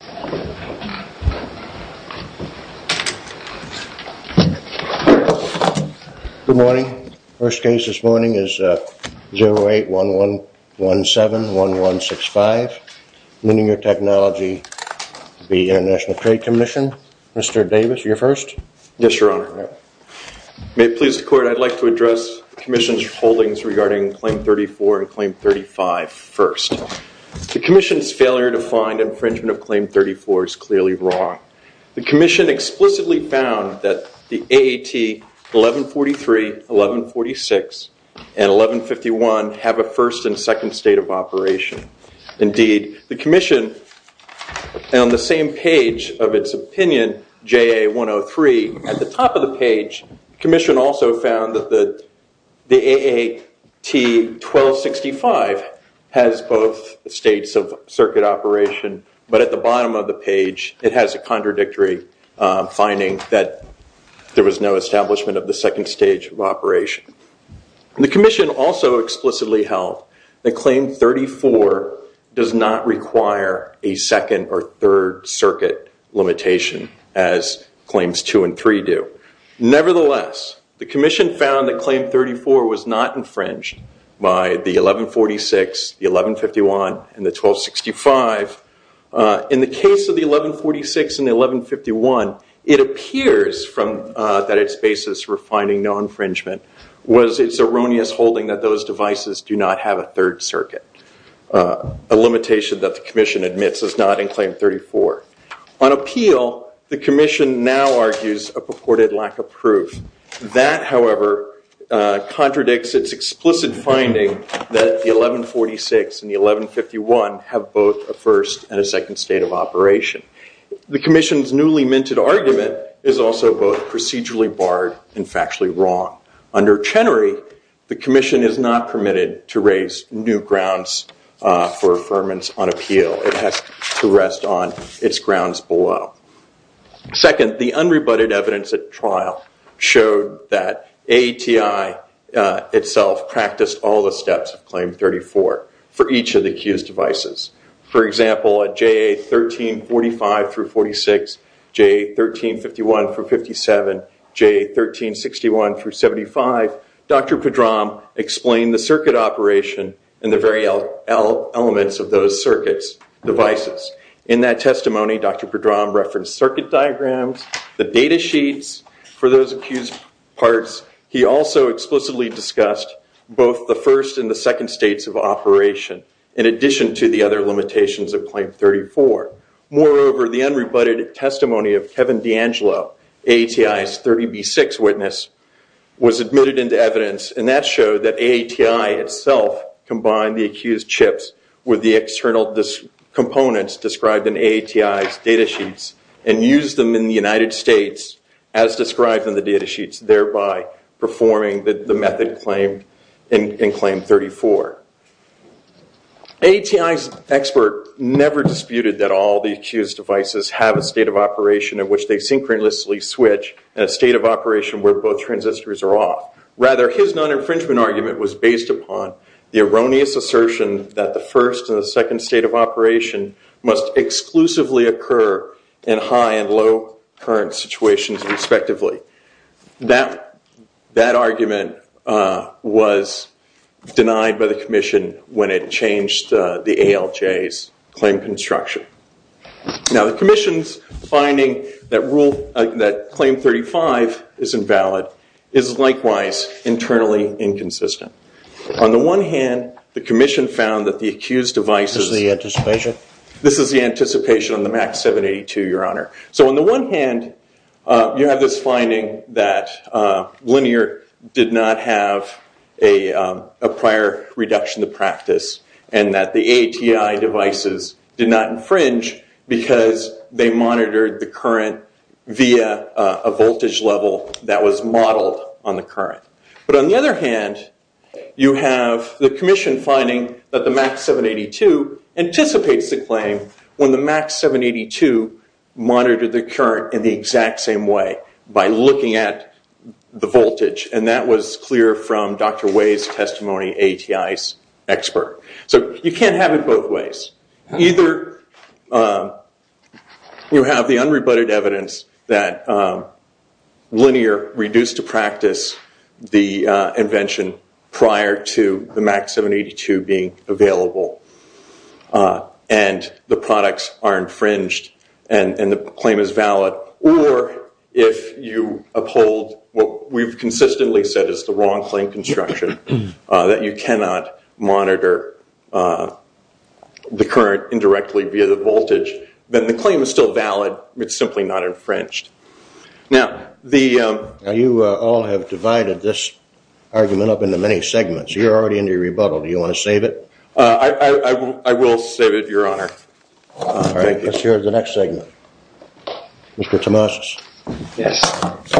Good morning. First case this morning is 08-1117-1165, Managing your Technology v. International Trade Commission. Mr. Davis, you're first. Yes, Your Honor. May it please the Court, I'd like to address the Commission's holdings regarding Claim 34 and Claim 35 first. The Commission's failure to find infringement of Claim 34 is clearly wrong. The Commission explicitly found that the AAT 1143, 1146, and 1151 have a first and second state of operation. Indeed, the Commission, on the same page of its opinion, JA 103, at the top of the page, the Commission also found that the AAT 1265 has both states of circuit operation, but at the bottom of the page it has a contradictory finding that there was no establishment of the second stage of operation. The Commission also explicitly held that Claim 34 does not require a second or third circuit limitation as Claims 2 and 3 do. Nevertheless, the Commission found that Claim 34 was not infringed by the 1146, the 1151, and the 1265. In the case of the 1146 and the 1151, it appears that its basis for finding no infringement was its erroneous holding that those devices do not have a third circuit, a limitation that the Commission admits is not in Claim 34. On appeal, the Commission now argues a purported lack of proof. That, however, contradicts its explicit finding that the 1146 and the 1151 have both a first and a second state of operation. The Commission's newly minted argument is also both procedurally barred and factually wrong. Under Chenery, the Commission is not permitted to raise new grounds for affirmance on appeal. It has to rest on its grounds below. Second, the unrebutted evidence at trial showed that AETI itself practiced all the steps of Claim 34 for each of the accused devices. For example, at JA 1345 through 46, JA 1351 through 57, JA 1361 through 75, Dr. Pedram explained the circuit operation and the various elements of those circuits, devices. In that testimony, Dr. Pedram referenced circuit diagrams, the data sheets for those accused parts. He also explicitly discussed both the first and the second states of operation, in addition to the other limitations of Claim 34. Moreover, the unrebutted testimony of Kevin D'Angelo, AETI's 30B6 witness, was admitted into evidence, and that showed that AETI itself combined the accused chips with the external components described in AETI's data sheets and used them in the United States as described in the data sheets, thereby performing the method claimed in Claim 34. AETI's expert never disputed that all the accused devices have a state of operation in which they synchronously switch, and a state of operation where both transistors are off. Rather, his non-infringement argument was based upon the erroneous assertion that the first and the second state of operation must exclusively occur in high and low current situations, respectively. That argument was denied by the committee, when it changed the ALJ's claim construction. Now, the commission's finding that Claim 35 is invalid is likewise internally inconsistent. On the one hand, the commission found that the accused devices... This is the anticipation? This is the anticipation on the MAX782, Your Honor. So on the one hand, you have this finding that Linear did not have a prior reduction of practice, and that the AETI devices did not infringe because they monitored the current via a voltage level that was modeled on the current. But on the other hand, you have the commission finding that the MAX782 anticipates the claim when the MAX782 monitored the current in the device, looking at the voltage. And that was clear from Dr. Wei's testimony, AETI's expert. So you can't have it both ways. Either you have the unrebutted evidence that Linear reduced to practice the invention prior to the MAX782 being available, and the products are infringed, and the claim is valid, or if you uphold what we've consistently said is the wrong claim construction, that you cannot monitor the current indirectly via the voltage, then the claim is still valid. It's simply not infringed. Now, the... You all have divided this argument up into many segments. You're already in your rebuttal. Do you want to save it? I will save it, Your Honor. All right. Let's hear the next segment. Mr. Tomasz. Yes.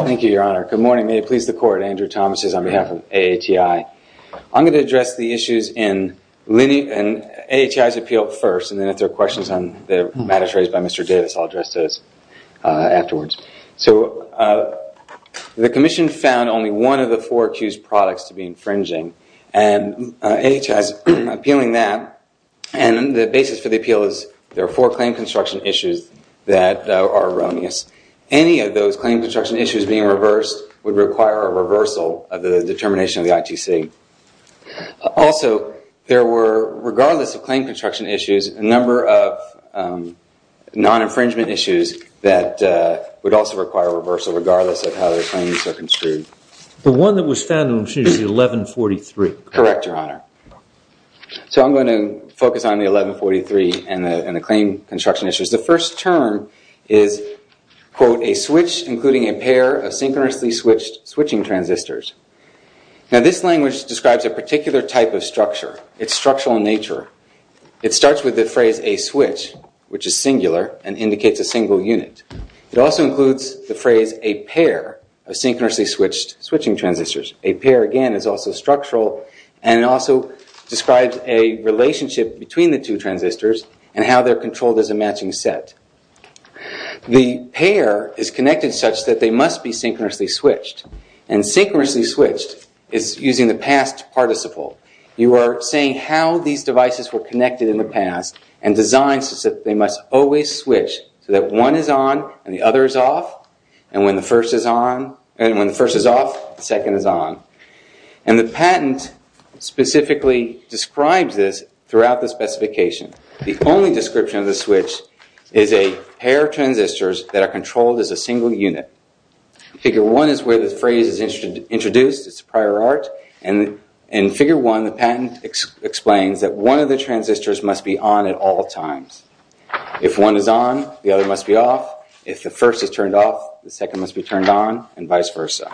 Thank you, Your Honor. Good morning. May it please the court, Andrew Tomasz on behalf of AETI. I'm going to address the issues in AETI's appeal first, and then if there are questions on the matters raised by Mr. Davis, I'll address those afterwards. So the commission found only one of the four accused products to be infringing, and AETI's appeal found that, and the basis for the appeal is there are four claim construction issues that are erroneous. Any of those claim construction issues being reversed would require a reversal of the determination of the ITC. Also, there were, regardless of claim construction issues, a number of non-infringement issues that would also require a reversal, regardless of how their claims are construed. The one that was found on, excuse me, 1143. Correct, Your Honor. So I'm going to focus on the 1143 and the claim construction issues. The first term is, quote, a switch including a pair of synchronously switched switching transistors. Now, this language describes a particular type of structure. It's structural in nature. It starts with the phrase, a switch, which is singular and indicates a single unit. It also includes the phrase, a pair of synchronously switched switching transistors. A pair, again, is also structural, and it also describes a relationship between the two transistors and how they're controlled as a matching set. The pair is connected such that they must be synchronously switched, and synchronously switched is using the past participle. You are saying how these devices were connected in the past and designed such that they must always switch, so that one is on and the other is off, and when the first is off, the second is on. And the patent specifically describes this throughout the specification. The only description of the switch is a pair of transistors that are controlled as a single unit. Figure one is where the phrase is introduced. It's a prior art, and in figure one, the patent explains that one of the transistors must be on at all times. If one is on, the other must be off. If the first is turned off, the second must be turned on, and vice versa.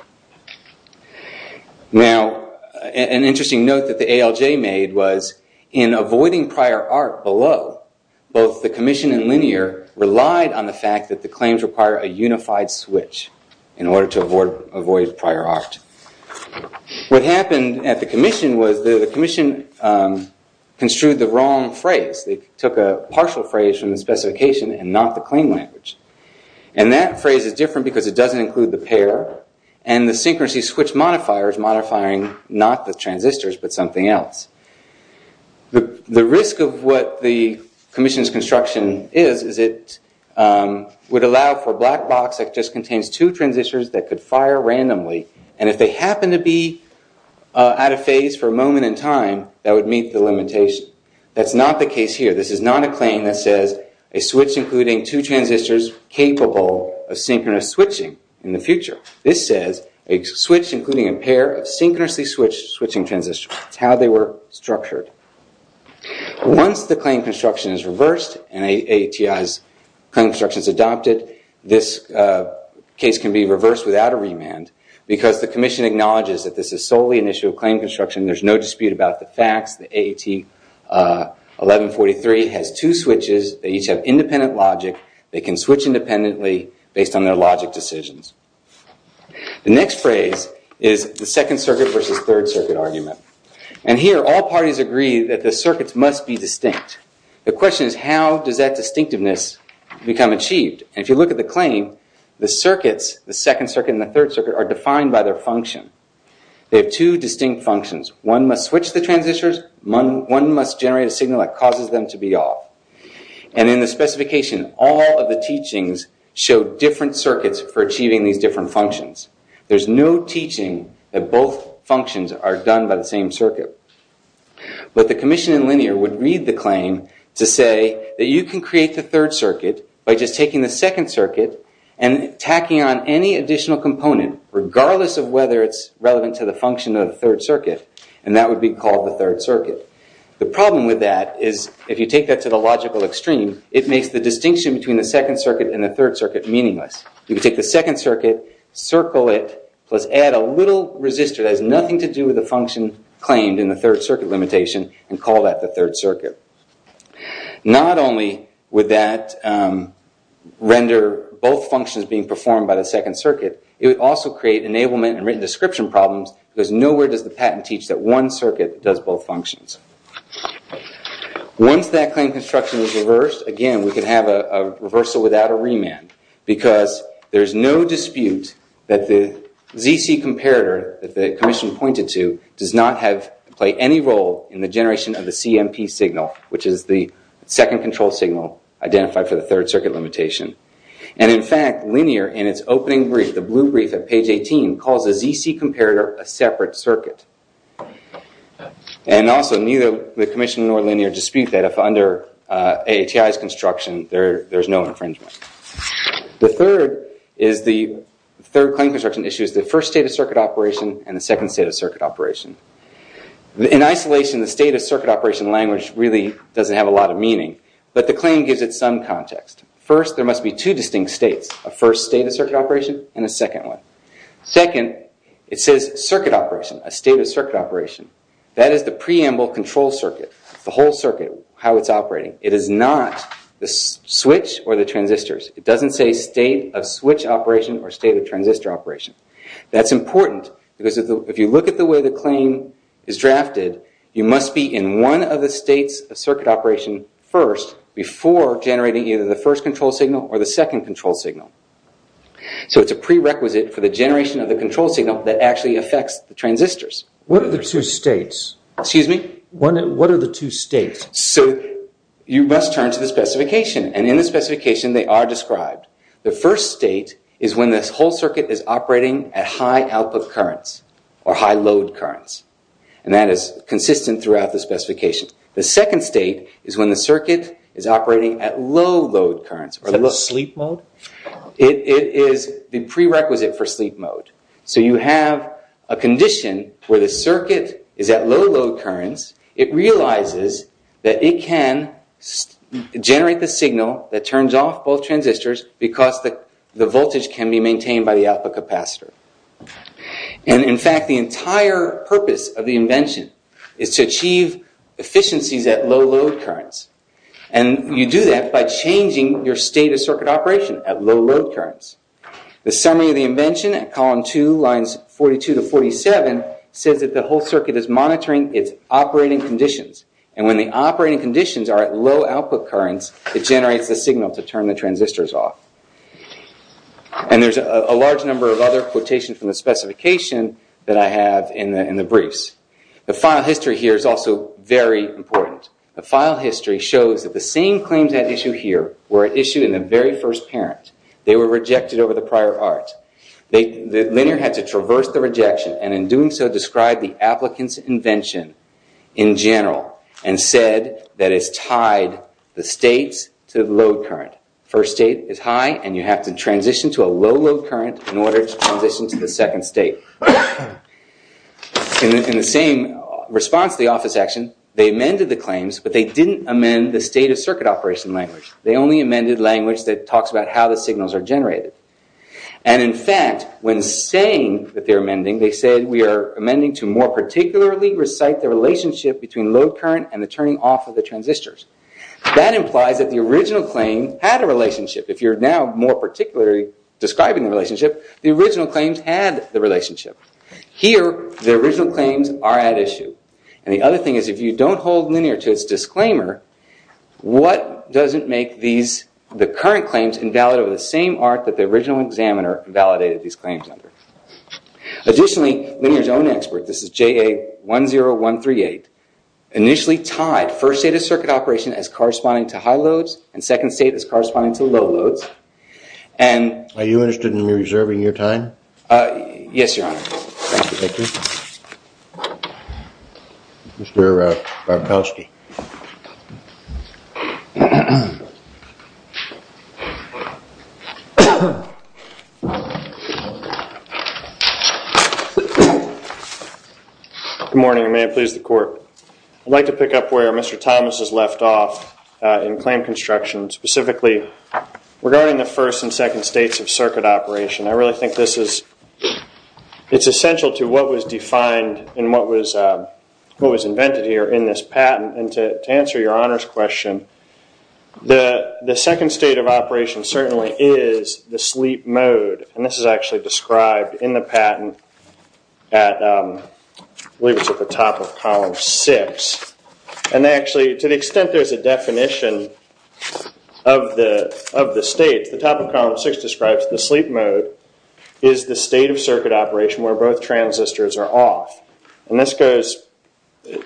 Now, an interesting note that the ALJ made was in avoiding prior art below, both the commission and Linear relied on the fact that the claims require a unified switch in order to avoid prior art. What happened at the commission was the commission construed the wrong phrase. They took a partial phrase from the specification and not the claim language. And that phrase is different because it doesn't include the pair, and the synchronous switch modifier is modifying not the transistors but something else. The risk of what the commission's construction is, is it would allow for a black box that just contains two transistors that could fire randomly, and if they happen to be out of phase for a moment in time, that would meet the limitation. That's not the case here. This is not a claim that says a switch including two transistors capable of synchronous switching in the future. This says a switch including a pair of synchronously switched switching transistors. That's how they were structured. Once the claim construction is reversed and AATI's construction is adopted, this case can be reversed without a remand because the AATI's construction, there's no dispute about the facts, the AAT1143 has two switches, they each have independent logic, they can switch independently based on their logic decisions. The next phrase is the second circuit versus third circuit argument. And here all parties agree that the circuits must be distinct. The question is how does that distinctiveness become achieved? And if you look at the claim, the circuits, the second circuit and the third function. They have two distinct functions. One must switch the transistors, one must generate a signal that causes them to be off. And in the specification, all of the teachings show different circuits for achieving these different functions. There's no teaching that both functions are done by the same circuit. But the commission in linear would read the claim to say that you can create the third circuit by just taking the second circuit and tacking on any additional component regardless of whether it's relevant to the function of the third circuit. And that would be called the third circuit. The problem with that is if you take that to the logical extreme, it makes the distinction between the second circuit and the third circuit meaningless. You can take the second circuit, circle it, plus add a little resistor that has nothing to do with the function claimed in the third circuit limitation and call that the third circuit. Not only would that render both functions being performed by the second circuit, it would also create enablement and written description problems because nowhere does the patent teach that one circuit does both functions. Once that claim construction is reversed, again, we can have a reversal without a remand because there's no dispute that the ZC comparator that the commission pointed to does not play any role in the generation of the CMP signal which is the second control signal identified for the third circuit limitation. And in fact, linear in its opening brief, the blue brief at page 18, calls the ZC comparator a separate circuit. And also neither the commission nor linear dispute that if under AATI's construction there's no infringement. The third claim construction issue is the first state of circuit operation and the second state of circuit operation. In isolation, the state of circuit operation language really doesn't have a lot of meaning, but the claim gives it some context. First, there must be two distinct states, a first state of circuit operation and a second one. Second, it says circuit operation, a state of circuit operation. That is the preamble control circuit, the whole circuit, how it's operating. It is not the switch or the transistors. It doesn't say state of switch operation or state of transistor operation. That's important because if you look at the way the claim is drafted, you must be in one of the states of circuit operation first before generating either the first control signal or the second control signal. So it's a prerequisite for the generation of the control signal that actually affects the transistors. What are the two states? Excuse me? What are the two states? So you must turn to the specification and in the specification they are described. The first state is when this whole circuit is operating at high output currents or high load currents. And that is consistent throughout the specification. The second state is when the circuit is operating at low load currents. Is that sleep mode? It is the prerequisite for sleep mode. So you have a condition where the circuit is at low load currents, it realizes that it can generate the signal that turns off both transistors because the voltage can be In fact, the entire purpose of the invention is to achieve efficiencies at low load currents. And you do that by changing your state of circuit operation at low load currents. The summary of the invention at column 2 lines 42 to 47 says that the whole circuit is monitoring its operating conditions. And when the operating conditions are at low output currents, it generates the signal to turn the transistors off. And there's a large number of other quotations from the specification that I have in the briefs. The file history here is also very important. The file history shows that the same claims at issue here were issued in the very first parent. They were rejected over the prior art. Linear had to traverse the rejection and in doing so describe the applicant's invention in general and said that it's tied the states to the load current. First state is high and you have to transition to a low load current in order to transition to the second state. In the same response to the office action, they amended the claims, but they didn't amend the state of circuit operation language. They only amended language that talks about how the signals are generated. And in fact, when saying that they're amending, they said we are amending to more particularly recite the relationship between load current and the turning off of the transistors. That implies that the original claim had a relationship. If you're now more particularly describing the relationship, the original claims had the relationship. Here, the original claims are at issue. And the other thing is if you don't hold linear to its disclaimer, what doesn't make the current claims invalid over the same art that the original examiner validated these claims under? Additionally, linear's own expert, this is JA10138, initially tied first state of circuit operation as corresponding to high loads and second state as corresponding to low loads. Are you interested in reserving your time? Yes, your honor. Mr. Bartoski. Good morning and may it please the court. I'd like to pick up where Mr. Thomas has left off in claim construction, specifically regarding the first and second states of circuit operation. I really think this is, it's essential to what was defined and what was invented here in this patent. And to answer your honor's question, the second state of operation certainly is the sleep mode. And this is actually described in the patent at, I believe it's at the top of column six. And they actually, to the extent there's a definition of the states, the top of column six describes the sleep mode is the state of circuit operation where both transistors are off. And this goes,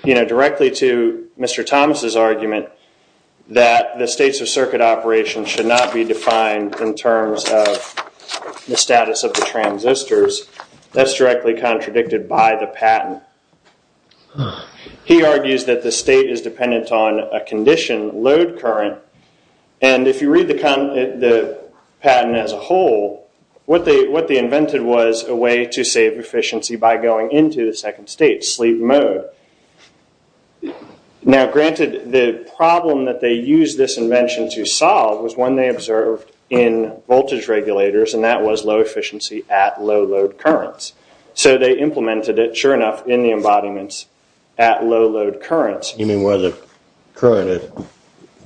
you know, directly to Mr. Thomas's argument that the states of circuit operation should not be defined in terms of the status of the transistors. That's directly contradicted by the patent. He argues that the state is dependent on a condition, load current. And if you read the patent as a whole, what they invented was a way to save efficiency by going into the second state, sleep mode. Now, granted the problem that they use this invention to solve was one they observed in voltage regulators and that was low efficiency at low load currents. So they implemented it sure enough in the embodiments at low load currents. You mean where the current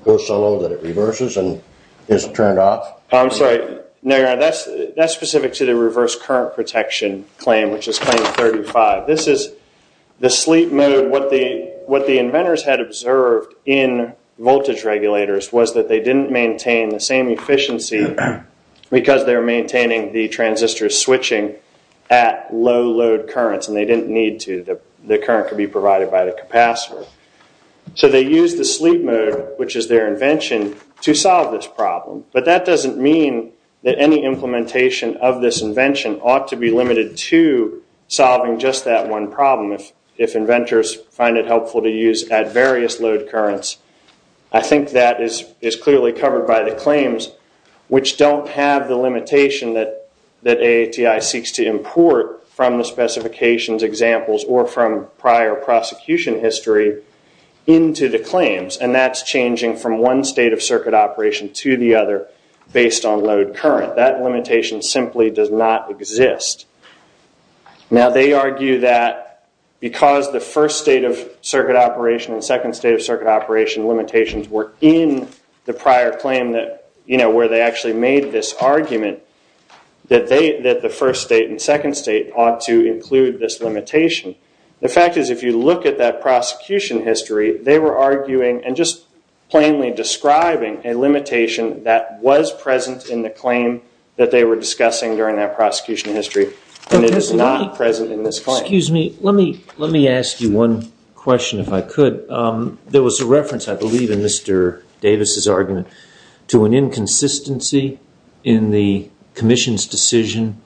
goes so low that it reverses and is turned off? I'm sorry. No, your honor, that's specific to the reverse current protection claim, which is claim 35. This is the sleep mode. What the inventors had observed in voltage regulators was that they didn't maintain the same efficiency because they were maintaining the transistors switching at low load currents and they didn't need to. The current could be provided by the capacitor. So they used the sleep mode, which is their invention, to solve this problem. But that doesn't mean that any implementation of this invention ought to be limited to solving just that one problem. If inventors find it helpful to use at various load currents, I think that is clearly covered by the claims, which don't have the limitation that AATI seeks to import from the specifications examples or from prior prosecution history into the claims, and that's changing from one state of circuit operation to the other based on load current. That limitation simply does not exist. Now, they argue that because the first state of circuit operation and second state of circuit operation limitations were in the prior claim that, you know, where they actually made this argument that the first state and second state ought to include this limitation. The fact is, if you look at that prosecution history, they were arguing and just plainly describing a limitation that was present in the claim that they were discussing during that prosecution history, and it is not present in this claim. Let me ask you one question, if I could. There was a reference, I believe, in Mr. Davis's argument to an inconsistency in the commission's decision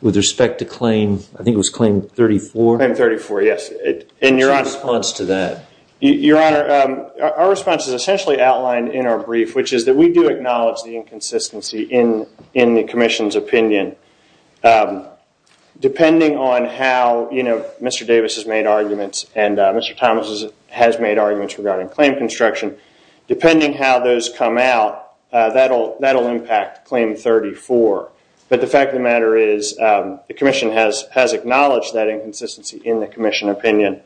with respect to claim, I think it was claim 34? Claim 34, yes. And your honor... What's your response to that? Your honor, our response is essentially outlined in our brief, which is that we do acknowledge the inconsistency in the commission's opinion. Depending on how, you know, Mr. Davis has made arguments and Mr. Thomas has made arguments regarding claim construction, depending how those come out, that will impact claim 34. But the fact of the matter is the commission has acknowledged that inconsistency in the commission opinion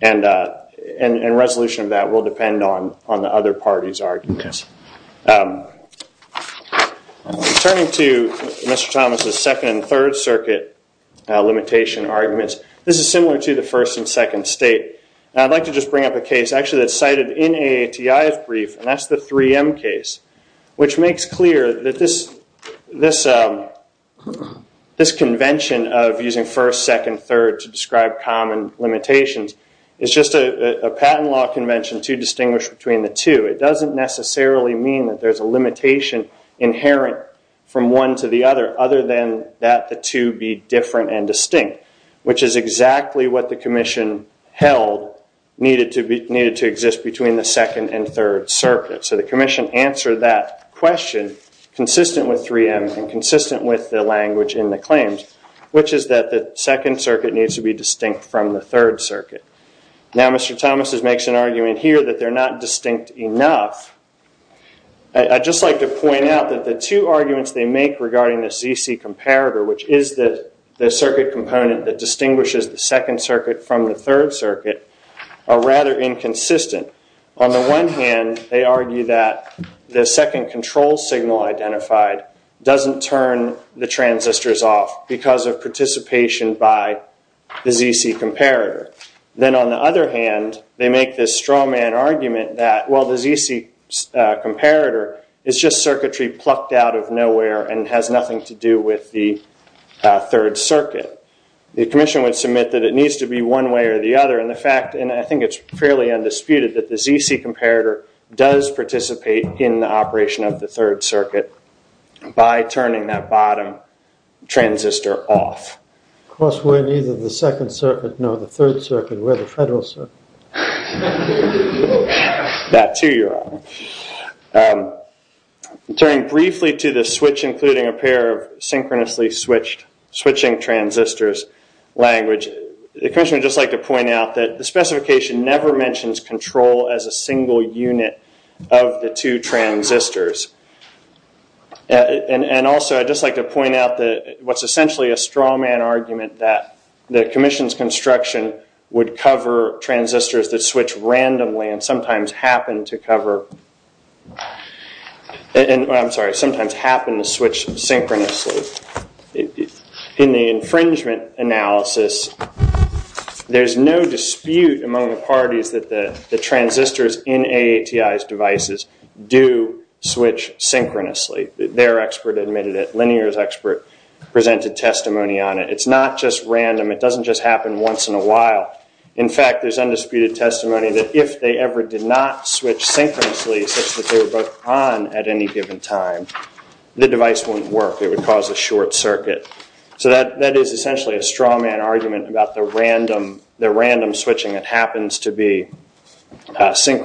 and resolution of that will depend on the other party's arguments. Turning to Mr. Thomas's second and third circuit limitation arguments, this is similar to the first and second state. I'd like to just bring up a case, actually, that's cited in AATI's brief, and that's the 3M case, which makes clear that this convention of using first, second, third to describe common limitations is just a patent law convention to distinguish between the two. It doesn't necessarily mean that there's a limitation inherent from one to the other, other than that the two be different and distinct, which is exactly what the commission held needed to exist between the second and third circuit. So the commission answered that question consistent with 3M and consistent with the language in the claims, which is that the second circuit needs to be distinct from the third circuit. Now, Mr. Thomas makes an argument here that they're not distinct enough. I'd just like to point out that the two arguments they make regarding this ZC comparator, which is the circuit component that distinguishes the second circuit from the third circuit, are rather inconsistent. On the one hand, they argue that the second control signal identified doesn't turn the transistors off because of participation by the ZC comparator. Then on the other hand, they make this strawman argument that, well, the ZC comparator is just circuitry plucked out of The commission would submit that it needs to be one way or the other, and I think it's fairly undisputed that the ZC comparator does participate in the operation of the third circuit by turning that bottom transistor off. Of course, we're neither the second circuit nor the third circuit. We're the federal circuit. That too, Your Honor. Turning briefly to the switch, including a pair of synchronously switching transistors language, the commission would just like to point out that the specification never mentions control as a single unit of the two transistors. Also, I'd just like to point out that what's essentially a strawman argument that the commission's construction would cover transistors that switch randomly and sometimes happen to switch synchronously. In the infringement analysis, there's no dispute among the parties that the transistors in AATI's devices do switch synchronously. Their expert admitted it. Linear's expert presented testimony on it. It's not just random. It doesn't just happen once in a while. In fact, there's undisputed testimony that if they ever did not switch synchronously such that they were both on at any given time, the device wouldn't work. It would cause a short circuit. So that is essentially a strawman argument about the random switching that happens to be regarding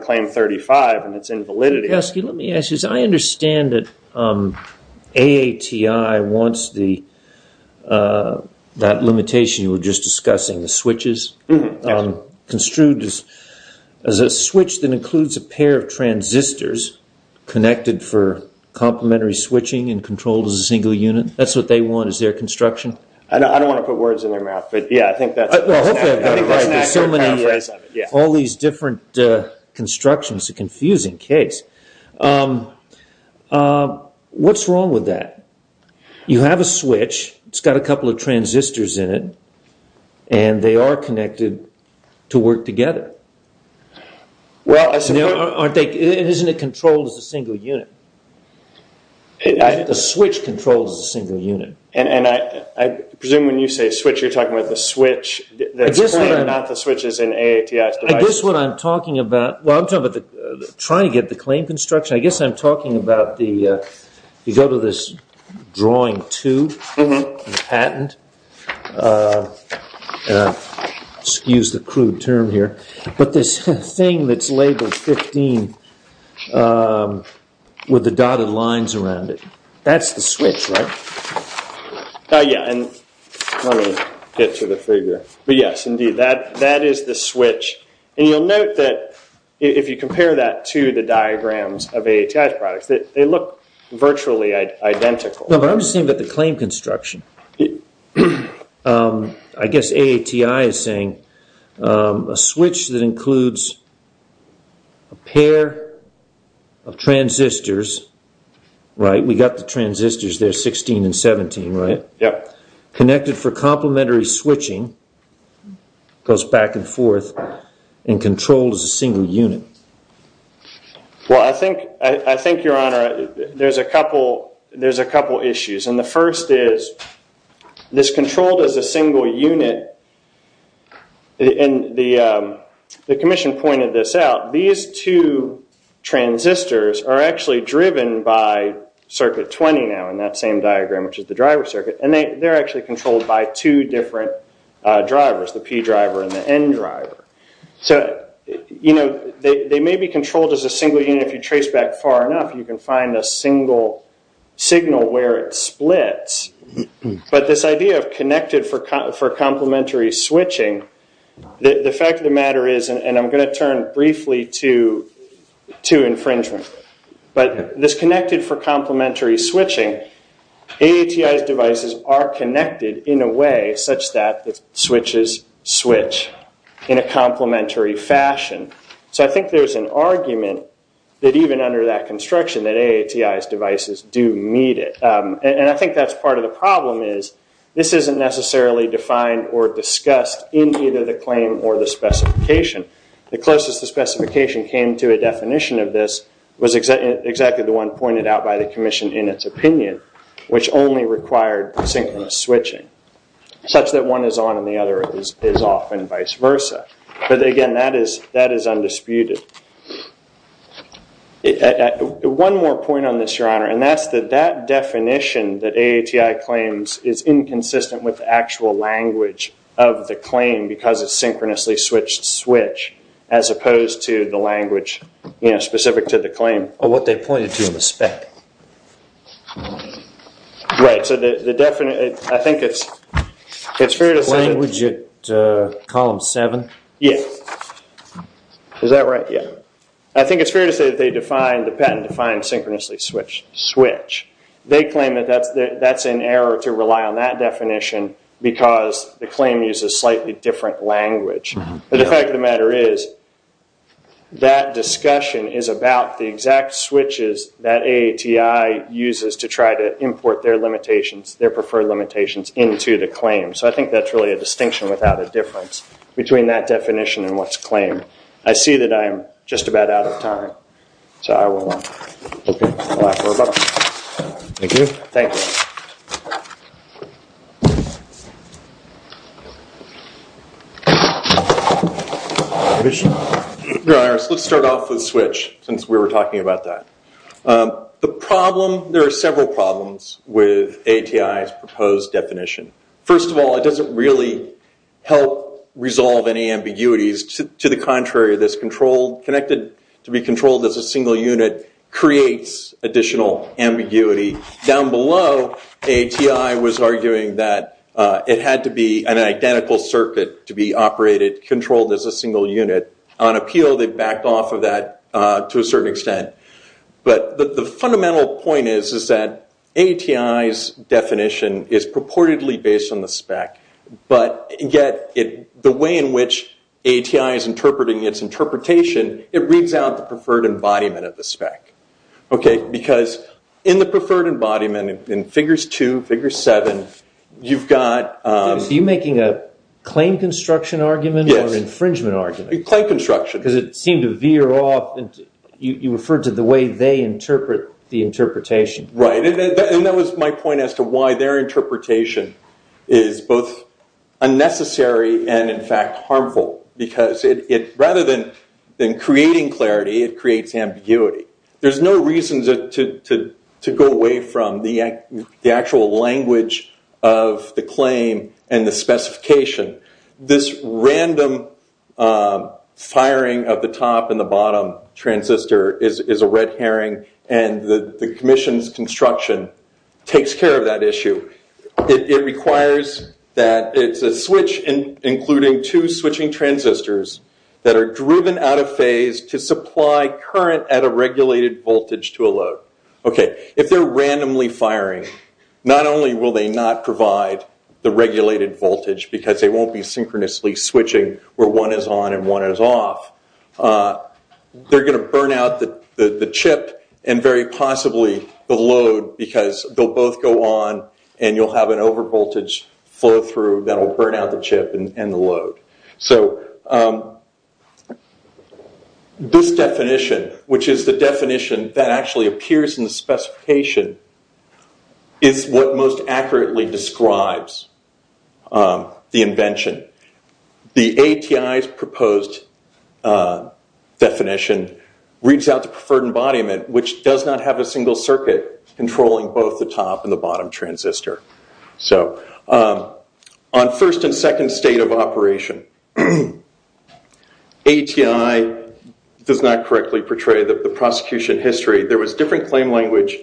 Claim 35 and its invalidity. Let me ask you this. I understand that AATI wants that limitation you were just discussing, the switches, construed as a switch that includes a pair of transistors connected for complementary switching and controlled as a single unit. That's what they want, is their construction? I don't want to put words in their mouth, but yeah, I think that's an accurate paraphrase of it. All these different constructions. It's a confusing case. What's wrong with that? You have a switch. It's got a couple of transistors in it, and they are connected to work together. Isn't it controlled as a single unit? The switch controls the single unit. I presume when you say switch, you're talking about the switch that's I guess what I'm talking about, well, I'm talking about trying to get the claim construction. I guess I'm talking about the, you go to this drawing two patent, excuse the crude term here, but this thing that's labeled 15 with the dotted lines around it. That's the switch, right? Oh yeah, and let me get to the figure. But yes, indeed, that is the switch. And you'll note that if you compare that to the diagrams of AATI's products, they look virtually identical. No, but I'm just saying that the claim construction, I guess AATI is saying a switch that includes a pair of transistors, right? We got the transistors there, 16 and 17, right? Yeah. Connected for complementary switching, goes back and forth, and controlled as a single unit. Well, I think, your honor, there's a couple issues. And the first is, this controlled as a single unit, and the commission pointed this out, these two transistors are actually driven by circuit 20 now in that same diagram, which is the driver circuit. And they're actually controlled by two different drivers, the P driver and the N driver. So, they may be controlled as a single unit if you trace back far enough, you can find a single where it splits. But this idea of connected for complementary switching, the fact of the matter is, and I'm going to turn briefly to infringement, but this connected for complementary switching, AATI's devices are connected in a way such that the switches switch in a complementary fashion. So, I think there's an argument that even under that construction that AATI's devices do meet it. And I think that's part of the problem is, this isn't necessarily defined or discussed in either the claim or the specification. The closest the specification came to a definition of this was exactly the one pointed out by the commission in its opinion, which only required synchronous switching, such that one is on and the other is off and vice versa. But, again, that is undisputed. One more point on this, Your Honor, and that's that definition that AATI claims is inconsistent with actual language of the claim because it's synchronously switched switch as opposed to the language, you know, specific to the claim. Or what they pointed to in the spec. Right. So, I think it's fair to say... Column 7. Yes. Is that right? Yeah. I think it's fair to say that they define, the patent defines synchronously switch. They claim that that's an error to rely on that definition because the claim uses slightly different language. But the fact of the matter is, that discussion is about the exact switches that AATI uses to try to import their limitations, their preferred limitations into the claim. So, I think that's really a distinction without a difference between that definition and what's claimed. I see that I'm just about out of time. So, I will wrap up. Thank you. Thank you. Your Honor, let's start off with switch, since we were talking about that. The problem, there are several problems with AATI's proposed definition. First of all, it doesn't really help resolve any ambiguities. To the contrary, this controlled, connected to be controlled as a single unit, creates additional ambiguity. Down below, AATI was arguing that it had to be an identical circuit to be operated, controlled as a single unit. On appeal, they backed off of that to a certain extent. But the fundamental point is, is that AATI's definition is purportedly based on the spec. But yet, the way in which AATI is interpreting its interpretation, it reads out the preferred embodiment of the spec. Because in the preferred embodiment, in figures two, figure seven, you've got... So, you're making a claim construction argument or infringement argument? Claim construction. Because it seemed to veer off. You referred to the way they interpret the interpretation. Right. And that was my point as to why their interpretation is both unnecessary and, in fact, harmful. Because rather than creating clarity, it creates ambiguity. There's no reason to go away from the actual language of the claim and the specification. This random firing of the top and the bottom transistor is a red herring. And the commission's construction takes care of that issue. It requires that it's a switch, including two switching transistors that are driven out of phase to supply current at a regulated voltage to a load. Okay. If they're randomly firing, not only will they not provide the regulated voltage, because they won't be synchronously switching where one is on and one is off, they're going to burn out the chip and, very possibly, the load because they'll both go on and you'll have an overvoltage flow through that will burn out the chip and the load. So, this definition, which is the definition that actually appears in the specification, is what most accurately describes the invention. The ATI's proposed definition reads out the preferred embodiment, which does not have a single circuit controlling both the top and the bottom transistor. So, on first and second state of operation, ATI does not correctly portray the prosecution history. There was different claim language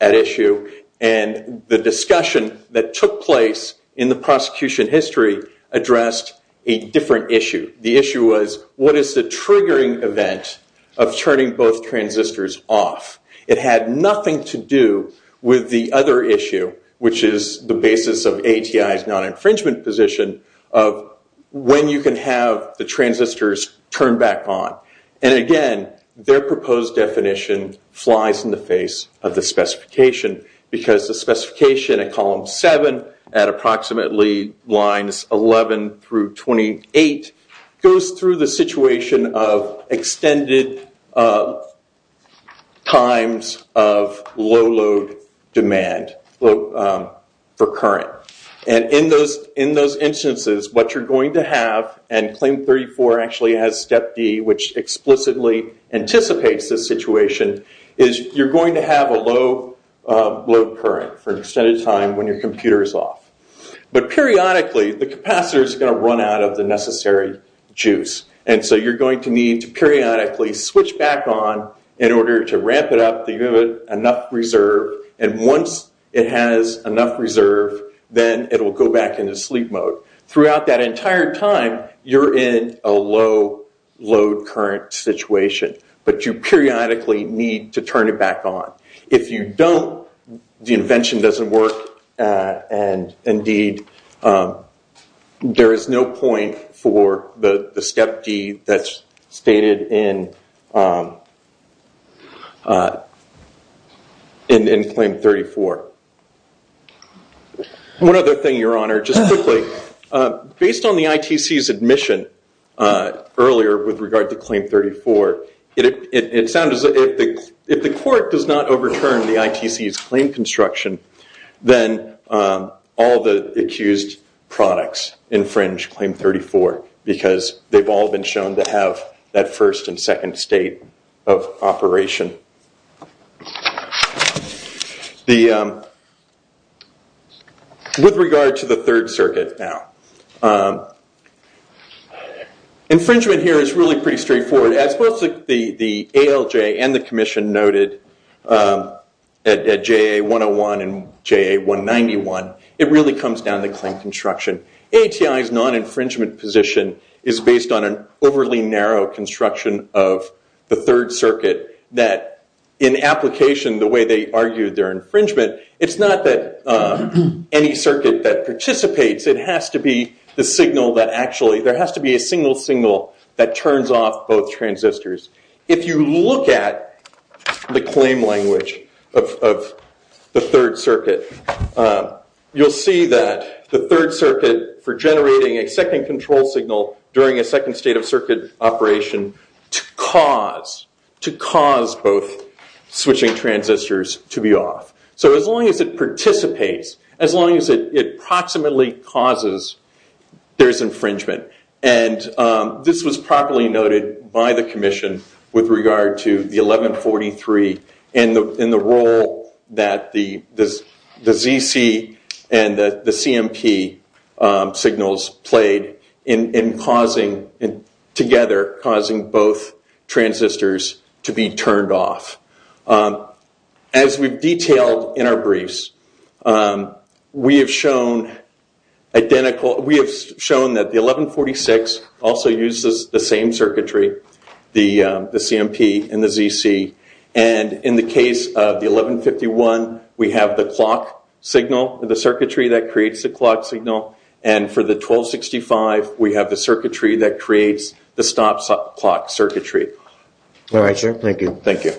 at issue and the discussion that took place in the prosecution history addressed a different issue. The issue was, what is the triggering event of turning both transistors off? It had nothing to do with the other issue, which is the basis of ATI's non-infringement position of when you can have the transistors turned back on. And, again, their proposed definition flies in the face of the specification because the specification at column seven at approximately lines 11 through 28 goes through the situation of extended times of low load demand for current. And, in those instances, what you're going to have, and claim 34 actually has step D, which explicitly anticipates this situation, is you're going to have a low load current for an extended time when your computer is off. But, periodically, the capacitor is going to run out of the necessary juice. And so you're going to need to periodically switch back on in order to ramp it up, to give it enough reserve. And once it has enough reserve, then it'll go back into sleep mode. Throughout that entire time, you're in a low load current situation. But you periodically need to turn it back on. If you don't, the invention doesn't work. And, indeed, there is no point for the step D that's stated in claim 34. One other thing, Your Honor, just quickly. Based on the ITC's admission earlier with regard to claim 34, it sounds as if the court does not overturn the ITC's claim construction, then all the accused products infringe claim 34 because they've all been shown to have that first and second state of operation. With regard to the Third Circuit, now, infringement here is really pretty straightforward. As both the ALJ and the Commission noted at JA101 and JA191, it really comes down to claim construction. ATI's non-infringement position is based on an overly narrow construction of the Third Circuit that, in application, the way they argued their infringement, it's not that any circuit that participates. There has to be a single signal that turns off both transistors. If you look at the claim language of the Third Circuit, you'll see that the Third Circuit, for generating a second control signal during a second state of circuit operation to cause both switching transistors to be off. As long as it participates, as long as it approximately causes, there's infringement. This was properly noted by the Commission with regard to the 1143 and the role that the ZC and the CMP signals played in, together, causing both transistors to be turned off. As we've detailed in our briefs, we have shown that the 1146 also uses the same circuitry, the CMP and the ZC. In the case of the 1151, we have the clock signal, the circuitry that creates the clock signal. For the 1265, we have the circuitry that creates the stop clock circuitry. All right, sir. Thank you. Thank you.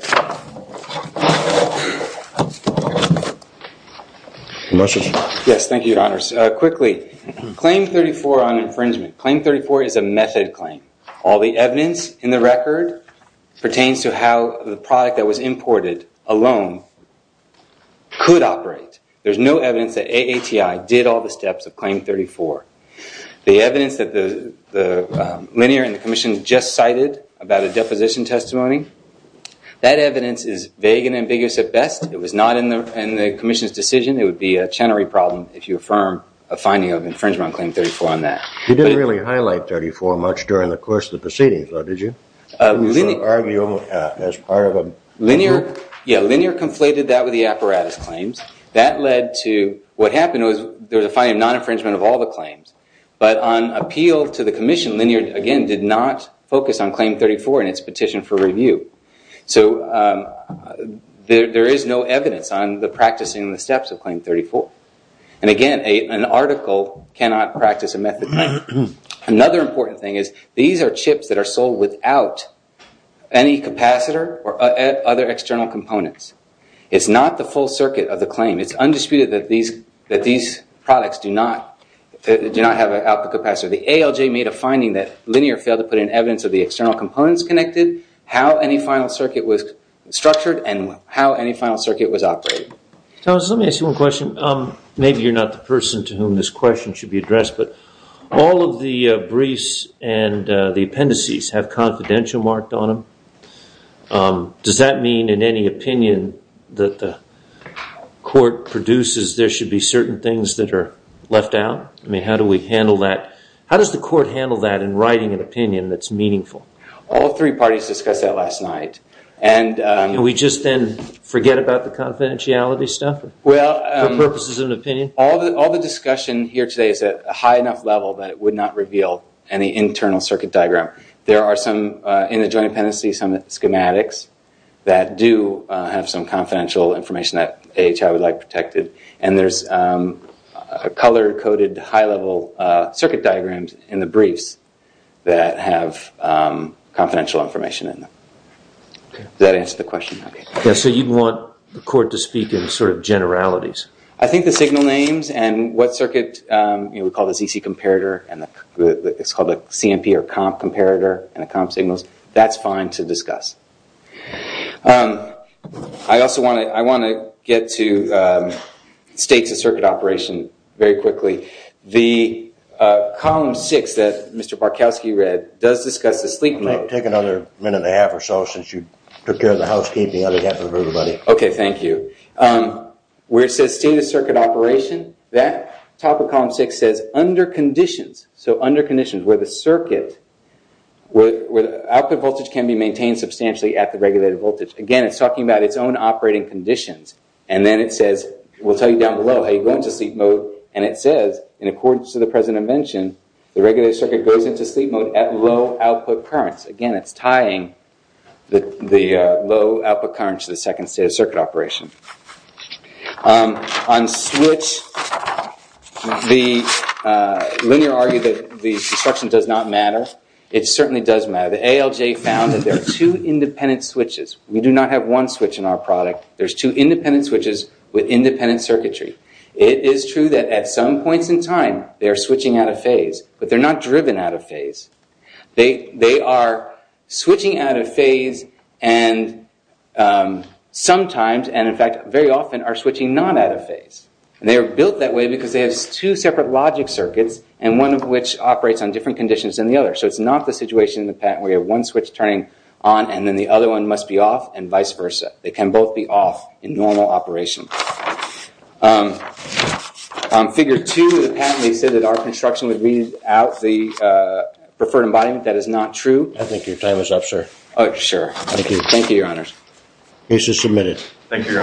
Yes, thank you, Your Honors. Quickly, Claim 34 on infringement. Claim 34 is a method claim. All the evidence in the record pertains to how the product that was imported alone could operate. There's no evidence that AATI did all the steps of Claim 34. The evidence that the linear and the Commission just cited about a deposition testimony, that evidence is vague and ambiguous at best. It was not in the Commission's decision. It would be a Chenery problem if you affirm a finding of infringement on Claim 34 on that. You didn't really highlight 34 much during the course of the proceedings, though, did you? I was going to argue as part of a... Linear, yeah. Linear conflated that with the apparatus claims. That led to what happened was there was a finding of non-infringement of all the claims. But on appeal to the Commission, Linear, again, did not focus on Claim 34 in its petition for review. So there is no evidence on the practicing the steps of Claim 34. And again, an article cannot practice a method claim. Another important thing is these are chips that are sold without any capacitor or other external components. It's not the full circuit of the claim. It's undisputed that these products do not have an output capacitor. The ALJ made a finding that Linear failed to put in evidence of the external components connected, how any final circuit was structured, and how any final circuit was operated. Thomas, let me ask you one question. Maybe you're not the person to whom this question should be addressed, but all of the briefs and the appendices have confidential marked on them. Does that mean in any opinion that the court produces there should be certain things that are left out? I mean, how do we handle that? How does the court handle that in writing an opinion that's meaningful? All three parties discussed that last night. And we just then forget about the confidentiality stuff for purposes of an opinion? All the discussion here today is at a high enough level that it would not reveal any internal circuit diagram. There are some, in the Joint Appendices, some schematics that do have some confidential information that AHI would like protected. And there's color-coded, high-level circuit diagrams in the briefs that have confidential information in them. Does that answer the question? Yeah, so you want the court to speak in sort of generalities? I think the signal names and what circuit, you know, we call the ZC comparator, and it's called a CMP or comp comparator, and the comp signals, that's fine to discuss. I also want to get to states of circuit operation very quickly. The column six that Mr. Barkowski read does discuss the sleep mode. Take another minute and a half or so, since you took care of the housekeeping on behalf of everybody. Okay, thank you. Where it says state of circuit operation, that top of column six says, under conditions, so under conditions where the circuit, where the output voltage can be maintained substantially at the regulated voltage. Again, it's talking about its own operating conditions. And then it says, we'll tell you down below, how you go into sleep mode. And it says, in accordance to the president mentioned, the regulated circuit goes into sleep mode at low output currents. Again, it's tying the low output current to the second state of circuit operation. On switch, the linear argued that the instruction does not matter. It certainly does matter. The ALJ found that there are two independent switches. We do not have one switch in our product. There's two independent switches with independent circuitry. It is true that at some points in time, they're switching out of phase, but they're not driven out of phase. They are switching out of phase, and sometimes, and in fact, very often, are switching not out of phase. And they are built that way because they have two separate logic circuits, and one of which operates on different conditions than the other. So it's not the situation in the patent where you have one switch turning on, and then the other one must be off, and vice versa. They can both be off in normal operation. Figure two of the patent, they said that our construction would be without the preferred embodiment. That is not true. I think your time is up, sir. Oh, sure. Thank you. Case is submitted. Thank you, your honor. Thank you.